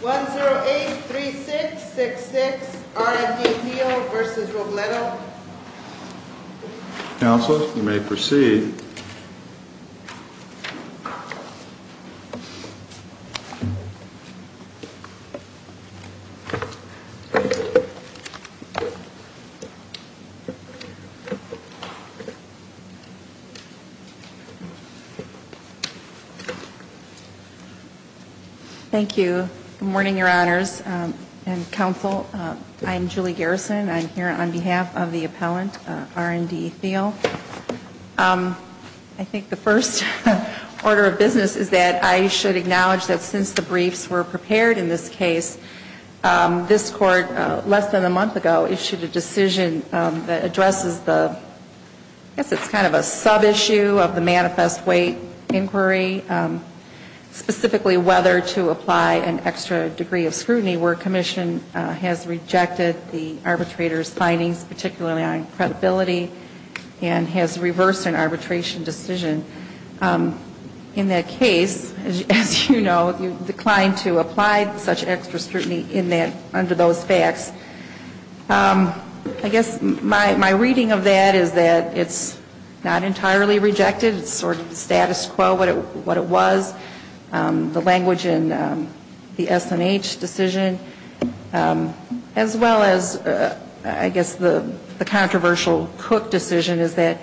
1 0 8 3 6 6 6 R & D Thiel v. Robledo Council, you may proceed. Thank you. Good morning, Your Honors and Council. I'm Julie Garrison. I'm here on behalf of the appellant, R & D Thiel. I think the first order of business is that I should acknowledge that since the briefs were prepared in this case, this Court, less than a month ago, issued a decision that addresses the, I guess it's kind of a sub-issue of the manifest weight inquiry, specifically whether to apply an extra degree of scrutiny where Commission has rejected the arbitrator's findings, particularly on credibility, and has reversed an arbitration decision. In that case, as you know, you declined to apply such extra scrutiny in that, under those facts. I guess my reading of that is that it's not entirely rejected. It's sort of the status quo, what it was. The language in the S&H decision, as well as, I guess, the controversial Cook decision is that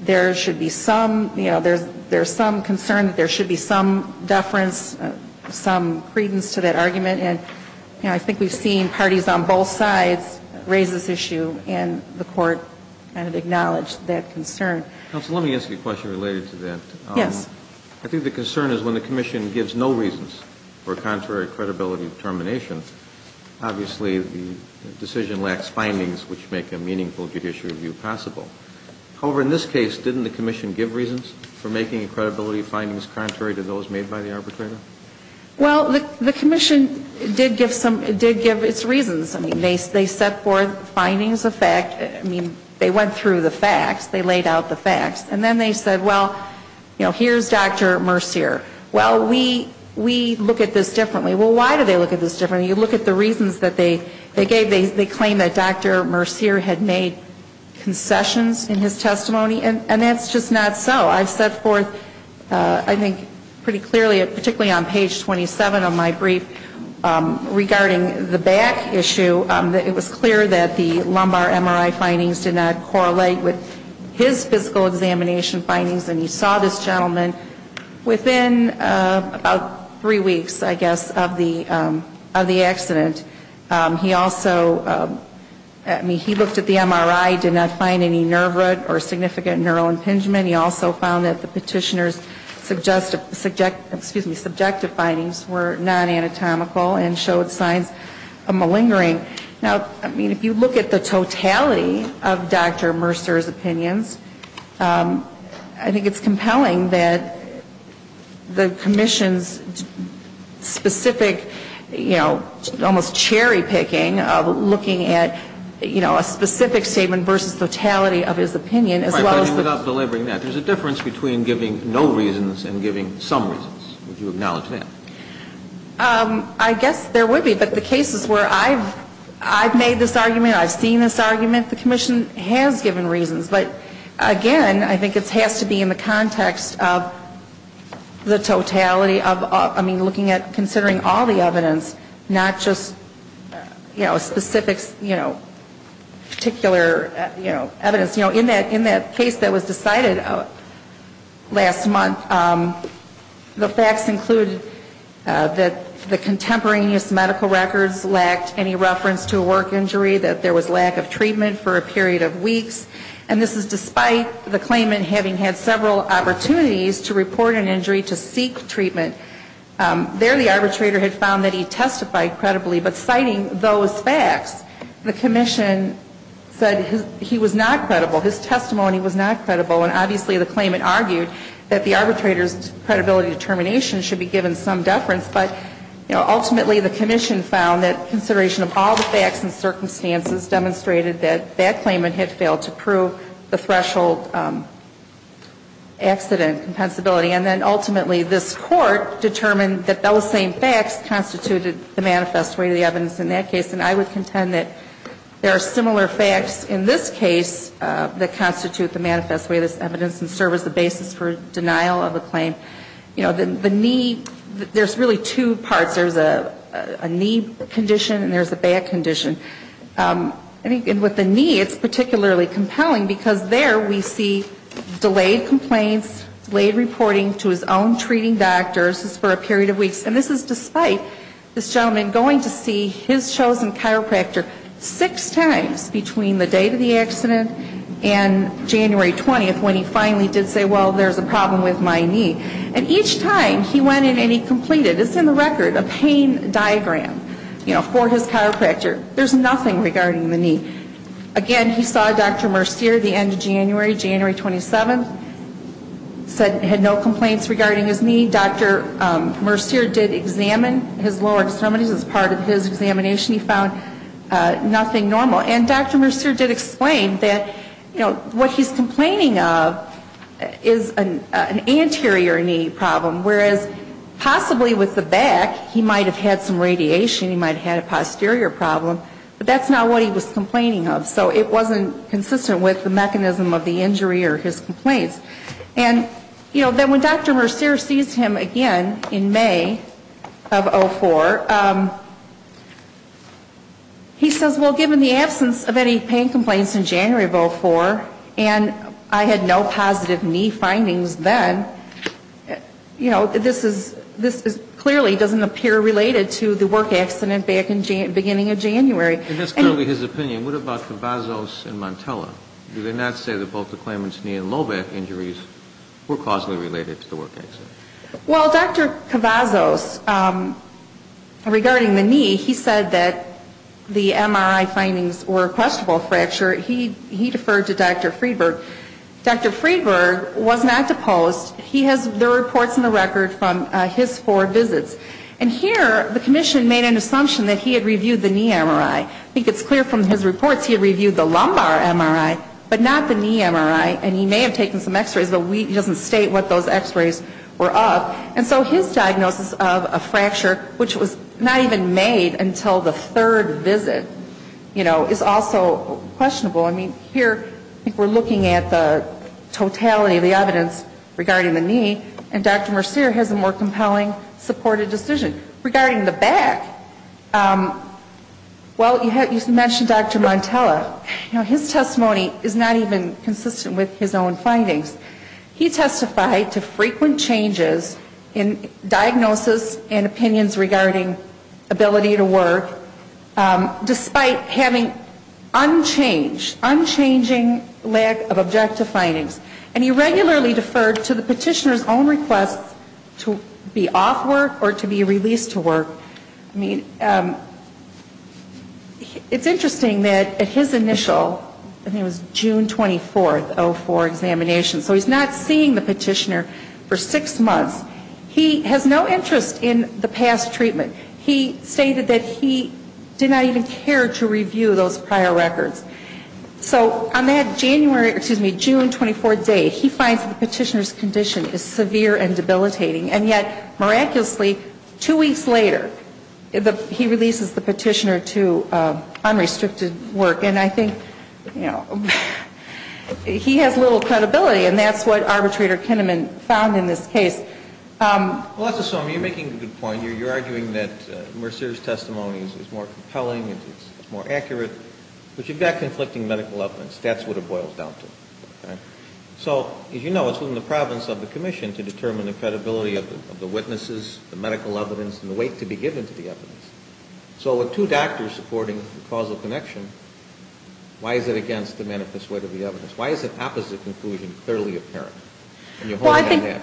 there should be some, you know, there's some concern that there should be some deference, some credence to that argument. And, you know, I think we've seen parties on both sides raise this issue, and the Court kind of acknowledged that concern. Counsel, let me ask you a question related to that. Yes. I think the concern is when the Commission gives no reasons for contrary credibility determinations, obviously the decision lacks findings which make a meaningful judiciary review possible. However, in this case, didn't the Commission give reasons for making credibility findings contrary to those made by the arbitrator? Well, the Commission did give some, did give its reasons. I mean, they set forth findings of fact. I mean, they went through the facts. They laid out the facts. And then they said, well, you know, here's Dr. Mercier. Well, we look at this differently. Well, why do they look at this differently? You look at the reasons that they gave. They claim that Dr. Mercier had made concessions in his testimony, and that's just not so. I've set forth, I think pretty clearly, particularly on page 27 of my brief, regarding the back issue. It was clear that the lumbar MRI findings did not correlate with his physical examination findings, and he saw this gentleman within about three weeks, I guess, of the accident. He also, I mean, he looked at the MRI, did not find any nerve root or significant neural impingement. He also found that the petitioner's subjective findings were non-anatomical and showed signs of malingering. Now, I mean, if you look at the totality of Dr. Mercier's opinions, I think it's compelling that the Commission's specific, you know, almost cherry-picking of looking at, you know, a specific statement versus totality of his opinion, as well as the I guess there would be, but the cases where I've made this argument, I've seen this argument, the Commission has given reasons. But again, I think it has to be in the context of the totality of, I mean, looking at, considering all the evidence, not just, you know, a specific, you know, particular, you know, evidence. cited last month. The facts included that the contemporaneous medical records lacked any reference to a work injury, that there was lack of treatment for a period of weeks. And this is despite the claimant having had several opportunities to report an injury to seek treatment. There the arbitrator had found that he testified credibly, but citing those facts, the Commission said he was not credible. His testimony was not credible. And obviously the claimant argued that the arbitrator's credibility determination should be given some deference. But, you know, ultimately the Commission found that consideration of all the facts and circumstances demonstrated that that claimant had failed to prove the threshold accident compensability. And then ultimately this Court determined that those same facts constituted the manifest weight of the evidence in that case. And I would contend that there are similar facts in this case that constitute the manifest weight of this evidence and serve as the basis for denial of a claim. You know, the knee, there's really two parts. There's a knee condition and there's a back condition. And with the knee it's particularly compelling because there we see delayed complaints, delayed reporting to his own treating doctors for a period of weeks. And this is despite this gentleman going to see his chosen chiropractor six times between the date of the accident and January 20th when he finally did say, well, there's a problem with my knee. And each time he went in and he completed, it's in the record, a pain diagram, you know, for his chiropractor. There's nothing regarding the knee. Again, he saw Dr. Mercier the end of January, January 27th, said he had no complaints regarding his knee. Dr. Mercier did examine his lower extremities as part of his examination. He found nothing normal. And Dr. Mercier did explain that, you know, what he's complaining of is an anterior knee problem, whereas possibly with the back he might have had some radiation, he might have had a posterior problem, but that's not what he was complaining of. So it wasn't consistent with the mechanism of the injury or his complaints. And, you know, then when Dr. Mercier sees him again in May of 04, he says, well, given the absence of any pain complaints in January of 04 and I had no positive knee findings then, you know, this is clearly doesn't appear related to the work accident back in January, beginning of January. And that's clearly his opinion. What about Cavazos and Montella? Do they not say that both the claimant's knee and low back injuries were causally related to the work accident? Well, Dr. Cavazos, regarding the knee, he said that the MRI findings were a questionable fracture. He deferred to Dr. Friedberg. Dr. Friedberg was not deposed. He has the reports in the record from his four visits. And here the commission made an assumption that he had reviewed the knee MRI. I think it's clear from his reports he reviewed the lumbar MRI, but not the knee MRI. And he may have taken some x-rays, but he doesn't state what those x-rays were of. And so his diagnosis of a fracture, which was not even made until the third visit, you know, is also questionable. I mean, here we're looking at the totality of the evidence regarding the knee, and Dr. Mercier has a more compelling supported decision. Regarding the back, well, you mentioned Dr. Montella. Now, his testimony is not even consistent with his own findings. He testified to frequent changes in diagnosis and opinions regarding ability to work, despite having unchanged, unchanging lack of objective findings. And he regularly deferred to the petitioner's own requests to be off work or to be released to work. I mean, it's interesting that at his initial, I think it was June 24th, 04 examination, so he's not seeing the petitioner for six months. He has no interest in the past treatment. He stated that he did not even care to review those prior records. So on that January, excuse me, June 24th date, he finds the petitioner's condition is severe and debilitating. And yet, miraculously, two weeks later, he releases the petitioner to unrestricted work. And I think, you know, he has little credibility, and that's what Arbitrator Kinnaman found in this case. Well, let's assume you're making a good point. You're arguing that Mercier's testimony is more compelling, it's more accurate. But you've got conflicting medical evidence. That's what it boils down to. So, as you know, it's within the province of the commission to determine the credibility of the witnesses, the medical evidence, and the weight to be given to the evidence. So with two doctors supporting the causal connection, why is it against the manifest weight of the evidence? Why is the opposite conclusion clearly apparent? Well, I think,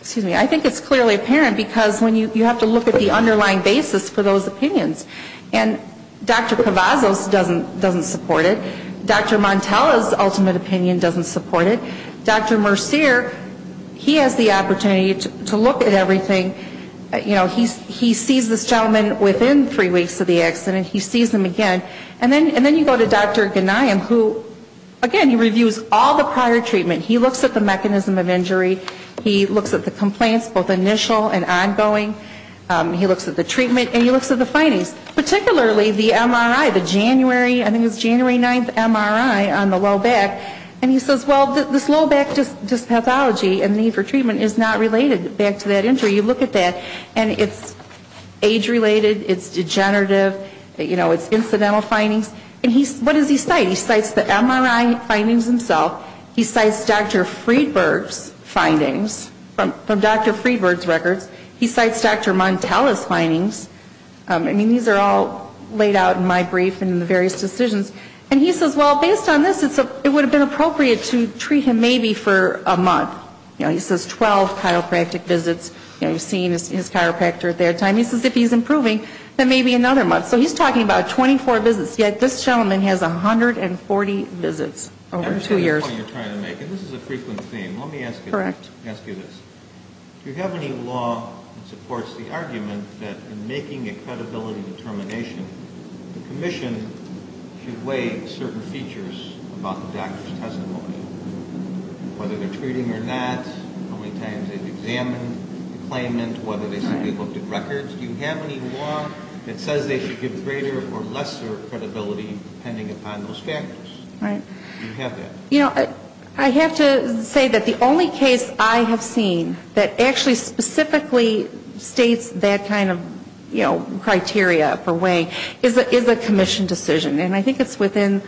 excuse me, I think it's clearly apparent because you have to look at the underlying basis for those opinions. And Dr. Pavazos doesn't support it. Dr. Montella's ultimate opinion doesn't support it. Dr. Mercier, he has the opportunity to look at everything. You know, he sees this gentleman within three weeks of the accident. He sees him again. And then you go to Dr. Ghanayem, who, again, he reviews all the prior treatment. He looks at the mechanism of injury. He looks at the complaints, both initial and ongoing. He looks at the treatment. And he looks at the findings, particularly the MRI, the January, I think it was January 9th MRI on the low back. And he says, well, this low back dyspathology and need for treatment is not related back to that injury. You look at that, and it's age-related. It's degenerative. You know, it's incidental findings. And what does he cite? He cites the MRI findings himself. He cites Dr. Friedberg's findings from Dr. Friedberg's records. He cites Dr. Montella's findings. I mean, these are all laid out in my brief and in the various decisions. And he says, well, based on this, it would have been appropriate to treat him maybe for a month. You know, he says 12 chiropractic visits. You know, you're seeing his chiropractor at that time. He says if he's improving, then maybe another month. So he's talking about 24 visits. Yet this gentleman has 140 visits over two years. And this is a frequent theme. Let me ask you this. Do you have any law that supports the argument that in making a credibility determination, the commission should weigh certain features about the doctor's testimony, whether they're treating or not, how many times they've examined the claimant, whether they simply looked at records? Do you have any law that says they should give greater or lesser credibility depending upon those factors? Do you have that? You know, I have to say that the only case I have seen that actually specifically states that kind of, you know, criteria for weighing is a commission decision. And I think it's within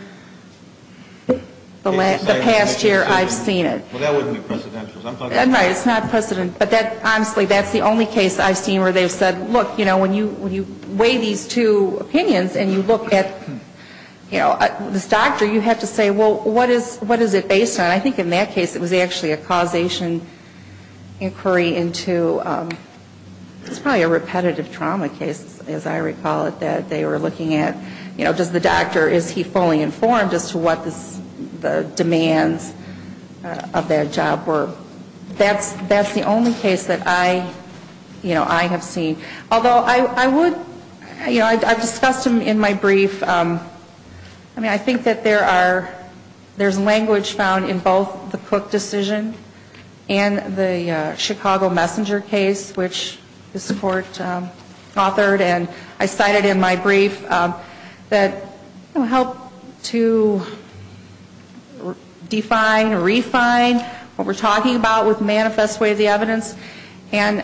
the past year I've seen it. Well, that wouldn't be precedential. Right, it's not precedential. But honestly, that's the only case I've seen where they've said, look, you know, when you weigh these two opinions and you look at, you know, this doctor, you have to say, well, what is it based on? I think in that case it was actually a causation inquiry into probably a repetitive trauma case, as I recall it, that they were looking at, you know, does the doctor, is he fully informed as to what the demands of that job were? That's the only case that I, you know, I have seen. Although I would, you know, I've discussed them in my brief. I mean, I think that there are, there's language found in both the Cook decision and the Chicago Messenger case, which this Court authored and I cited in my brief, that helped to define, refine what we're talking about with manifest way of the evidence. And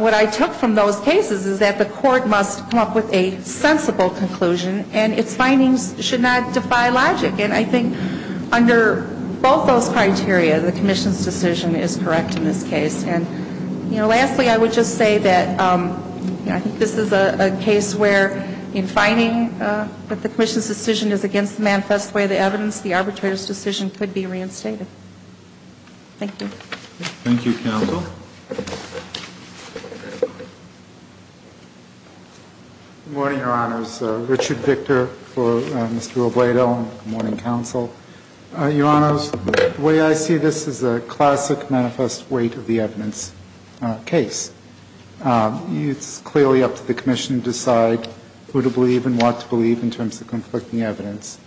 what I took from those cases is that the Court must come up with a sensible conclusion and its findings should not defy logic. And I think under both those criteria, the Commission's decision is correct in this case. And, you know, lastly, I would just say that, you know, I think this is a case where in finding that the Commission's decision is against the manifest way of the evidence, the arbitrator's decision could be reinstated. Thank you. Thank you, Counsel. Good morning, Your Honors. Richard Victor for Mr. Obrado and good morning, Counsel. Your Honors, the way I see this is a classic manifest way to the evidence case. It's clearly up to the Commission to decide who to believe and what to believe in terms of conflicting evidence.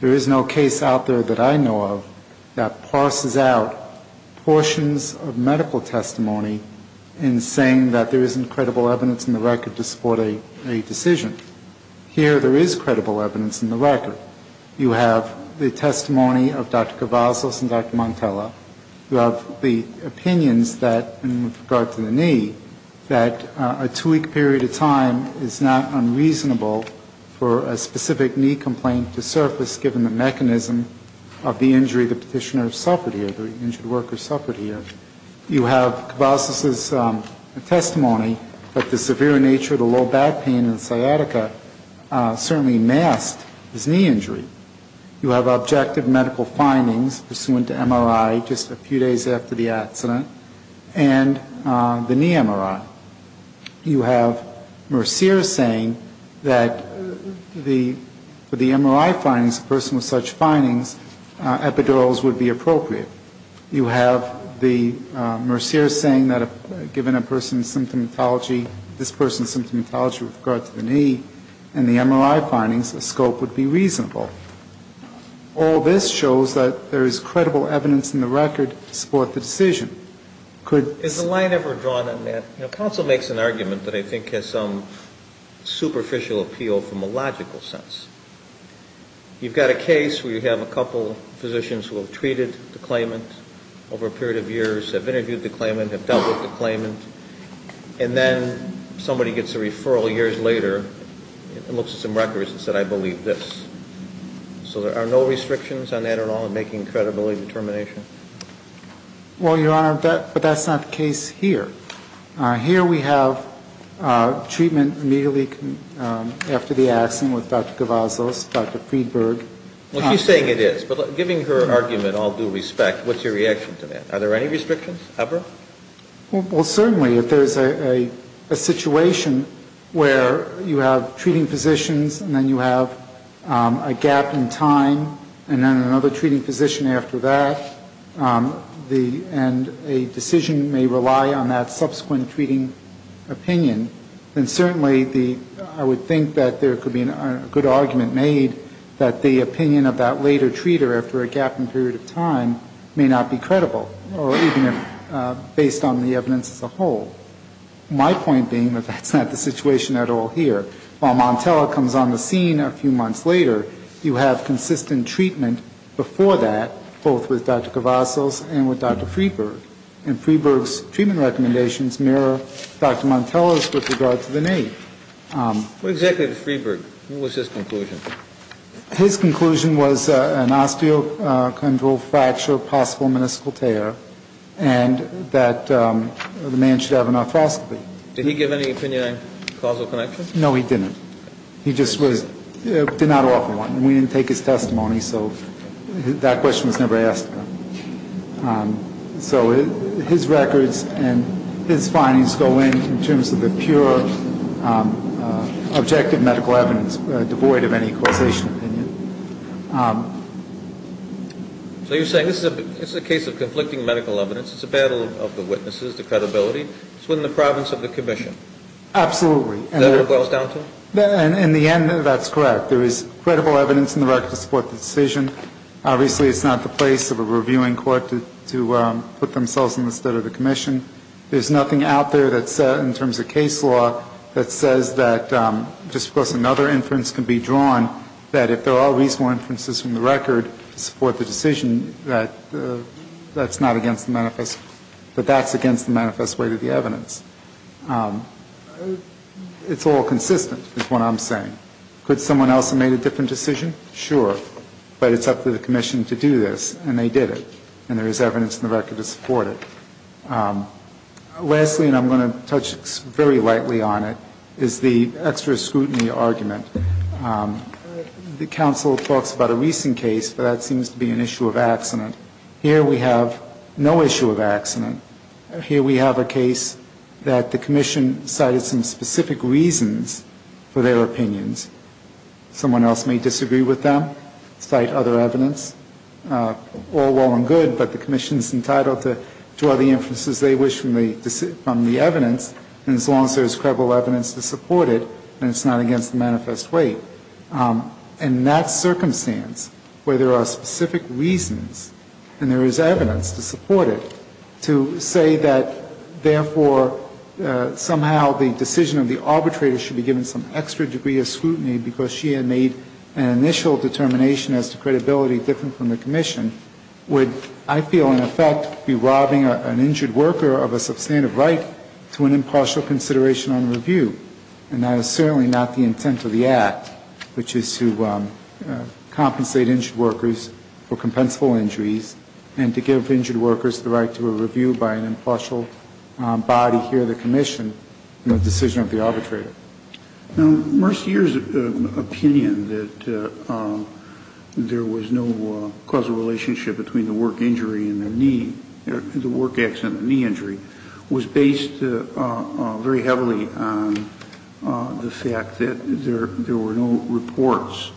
There is no case out there that I know of that parses out portions of medical testimony in saying that there isn't credible evidence in the record to support a decision. Here there is credible evidence in the record. You have the testimony of Dr. Cavazos and Dr. Montella. You have the opinions that in regard to the knee, that a two-week period of time is not unreasonable for a specific knee complaint to surface given the mechanism of the injury the Petitioner suffered here, the injured worker suffered here. You have Cavazos' testimony that the severe nature of the low back pain in sciatica certainly masked his knee injury. You have objective medical findings pursuant to MRI just a few days after the accident and the knee MRI. You have Mercier saying that for the MRI findings, a person with such findings, epidurals would be appropriate. You have Mercier saying that given a person's symptomatology, this person's symptomatology with regard to the knee and the MRI findings, the scope would be reasonable. All this shows that there is credible evidence in the record to support the decision. Is the line ever drawn on that? You know, counsel makes an argument that I think has some superficial appeal from a logical sense. You've got a case where you have a couple physicians who have treated the claimant over a period of years, have interviewed the claimant, have dealt with the claimant, and then somebody gets a referral years later and looks at some records and says, I believe this. So there are no restrictions on that at all in making credibility determination? Well, Your Honor, but that's not the case here. Here we have treatment immediately after the accident with Dr. Gavazos, Dr. Friedberg. Well, she's saying it is. But giving her argument all due respect, what's your reaction to that? Are there any restrictions ever? Well, certainly if there's a situation where you have treating physicians and then you have a gap in time and then another treating physician after that, and a decision may rely on that subsequent treating opinion, then certainly I would think that there could be a good argument made that the opinion of that later treater after a gap in period of time may not be credible, or even based on the evidence as a whole. My point being that that's not the situation at all here. While Montella comes on the scene a few months later, you have consistent treatment before that, both with Dr. Gavazos and with Dr. Friedberg. And Friedberg's treatment recommendations mirror Dr. Montella's with regard to the NAPE. What exactly did Friedberg, what was his conclusion? His conclusion was an osteochondral fracture, possible meniscal tear, and that the man should have an arthroscopy. Did he give any opinion on causal connection? No, he didn't. He just was, did not offer one. We didn't take his testimony, so that question was never asked. So his records and his findings go in in terms of the pure objective medical evidence, devoid of any causational opinion. So you're saying this is a case of conflicting medical evidence, it's a battle of the witnesses, the credibility. It's within the province of the commission. Absolutely. Is that what it boils down to? In the end, that's correct. There is credible evidence in the record to support the decision. Obviously, it's not the place of a reviewing court to put themselves in the stead of the commission. There's nothing out there that's, in terms of case law, that says that just because another inference can be drawn, that if there are reasonable inferences from the record to support the decision, that that's not against the manifest, that that's against the manifest way to the evidence. It's all consistent, is what I'm saying. Could someone else have made a different decision? Sure. But it's up to the commission to do this, and they did it. And there is evidence in the record to support it. Lastly, and I'm going to touch very lightly on it, is the extra scrutiny argument. The counsel talks about a recent case, but that seems to be an issue of accident. Here we have no issue of accident. Here we have a case that the commission cited some specific reasons for their opinions. Someone else may disagree with them, cite other evidence. All well and good, but the commission's entitled to draw the inferences they wish from the evidence, and as long as there's credible evidence to support it, then it's not against the manifest way. And in that circumstance, where there are specific reasons, and there is evidence to support it, to say that, therefore, somehow the decision of the arbitrator should be given some extra degree of scrutiny because she had made an initial determination as to credibility different from the commission, would, I feel, in effect, be robbing an injured worker of a substantive right to an impartial consideration on review. And that is certainly not the intent of the Act, which is to compensate injured workers for compensable injuries and to give injured workers the right to a review by an impartial body here in the commission in the decision of the arbitrator. Now, Mercyhurst's opinion that there was no causal relationship between the work injury and the knee, the work accident and the knee injury, was based very heavily on the fact that there were no reports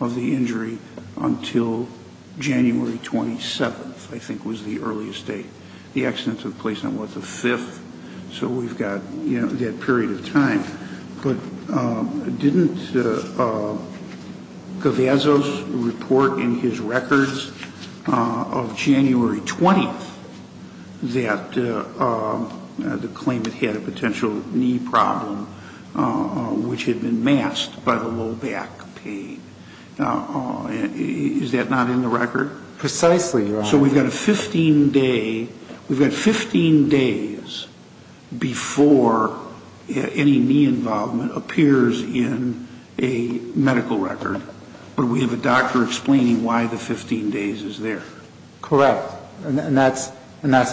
of the injury until January 27th, I think was the earliest date. The accident took place on, what, the 5th? So we've got, you know, that period of time. But didn't Gavazos report in his records of January 20th that the claimant had a potential knee problem, which had been masked by the low back pain? Is that not in the record? Precisely, Your Honor. So we've got a 15-day, we've got 15 days before any knee involvement appears in a medical record, but we have a doctor explaining why the 15 days is there. Correct. And that's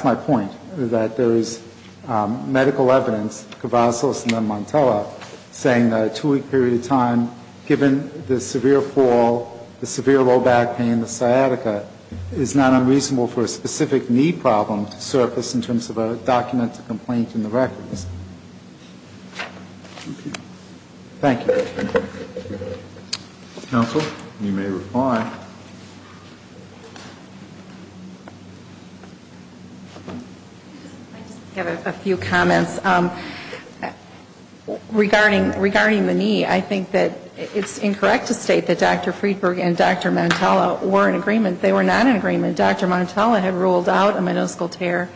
my point, that there is medical evidence, Gavazos and then Montella, saying that a two-week period of time, given the severe fall, the severe low back pain, the sciatica, is not unreasonable for a specific knee problem to surface in terms of a documented complaint in the records. Thank you. Counsel, you may reply. I just have a few comments. Regarding the knee, I think that it's incorrect to state that Dr. Friedberg and Dr. Montella were in agreement. They were not in agreement. Dr. Montella had ruled out a minuscule tear.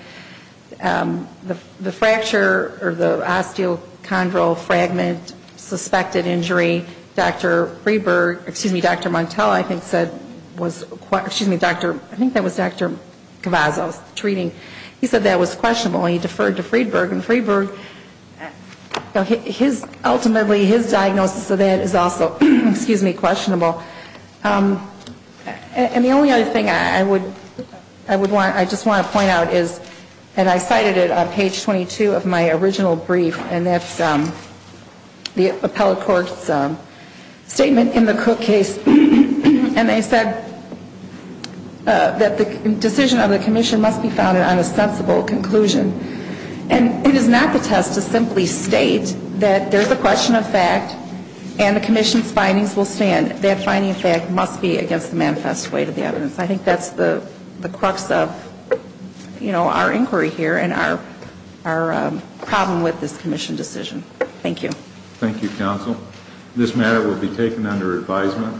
The fracture or the osteochondral fragment suspected injury, Dr. Friedberg, excuse me, Dr. Montella, I think said was, excuse me, Dr., I think that was Dr. Gavazos treating. He said that was questionable. He deferred to Friedberg. And Friedberg, his, ultimately his diagnosis of that is also, excuse me, questionable. And the only other thing I would, I would want, I just want to point out is, and I cited it on page 22 of my original brief, and that's the appellate court's statement in the Cook case. And they said that the decision of the commission must be founded on a sensible conclusion. And it is not the test to simply state that there's a question of fact and the commission's findings will stand. That finding of fact must be against the manifest way to the evidence. I think that's the crux of, you know, our inquiry here and our problem with this commission decision. Thank you. Thank you, counsel. This matter will be taken under advisement.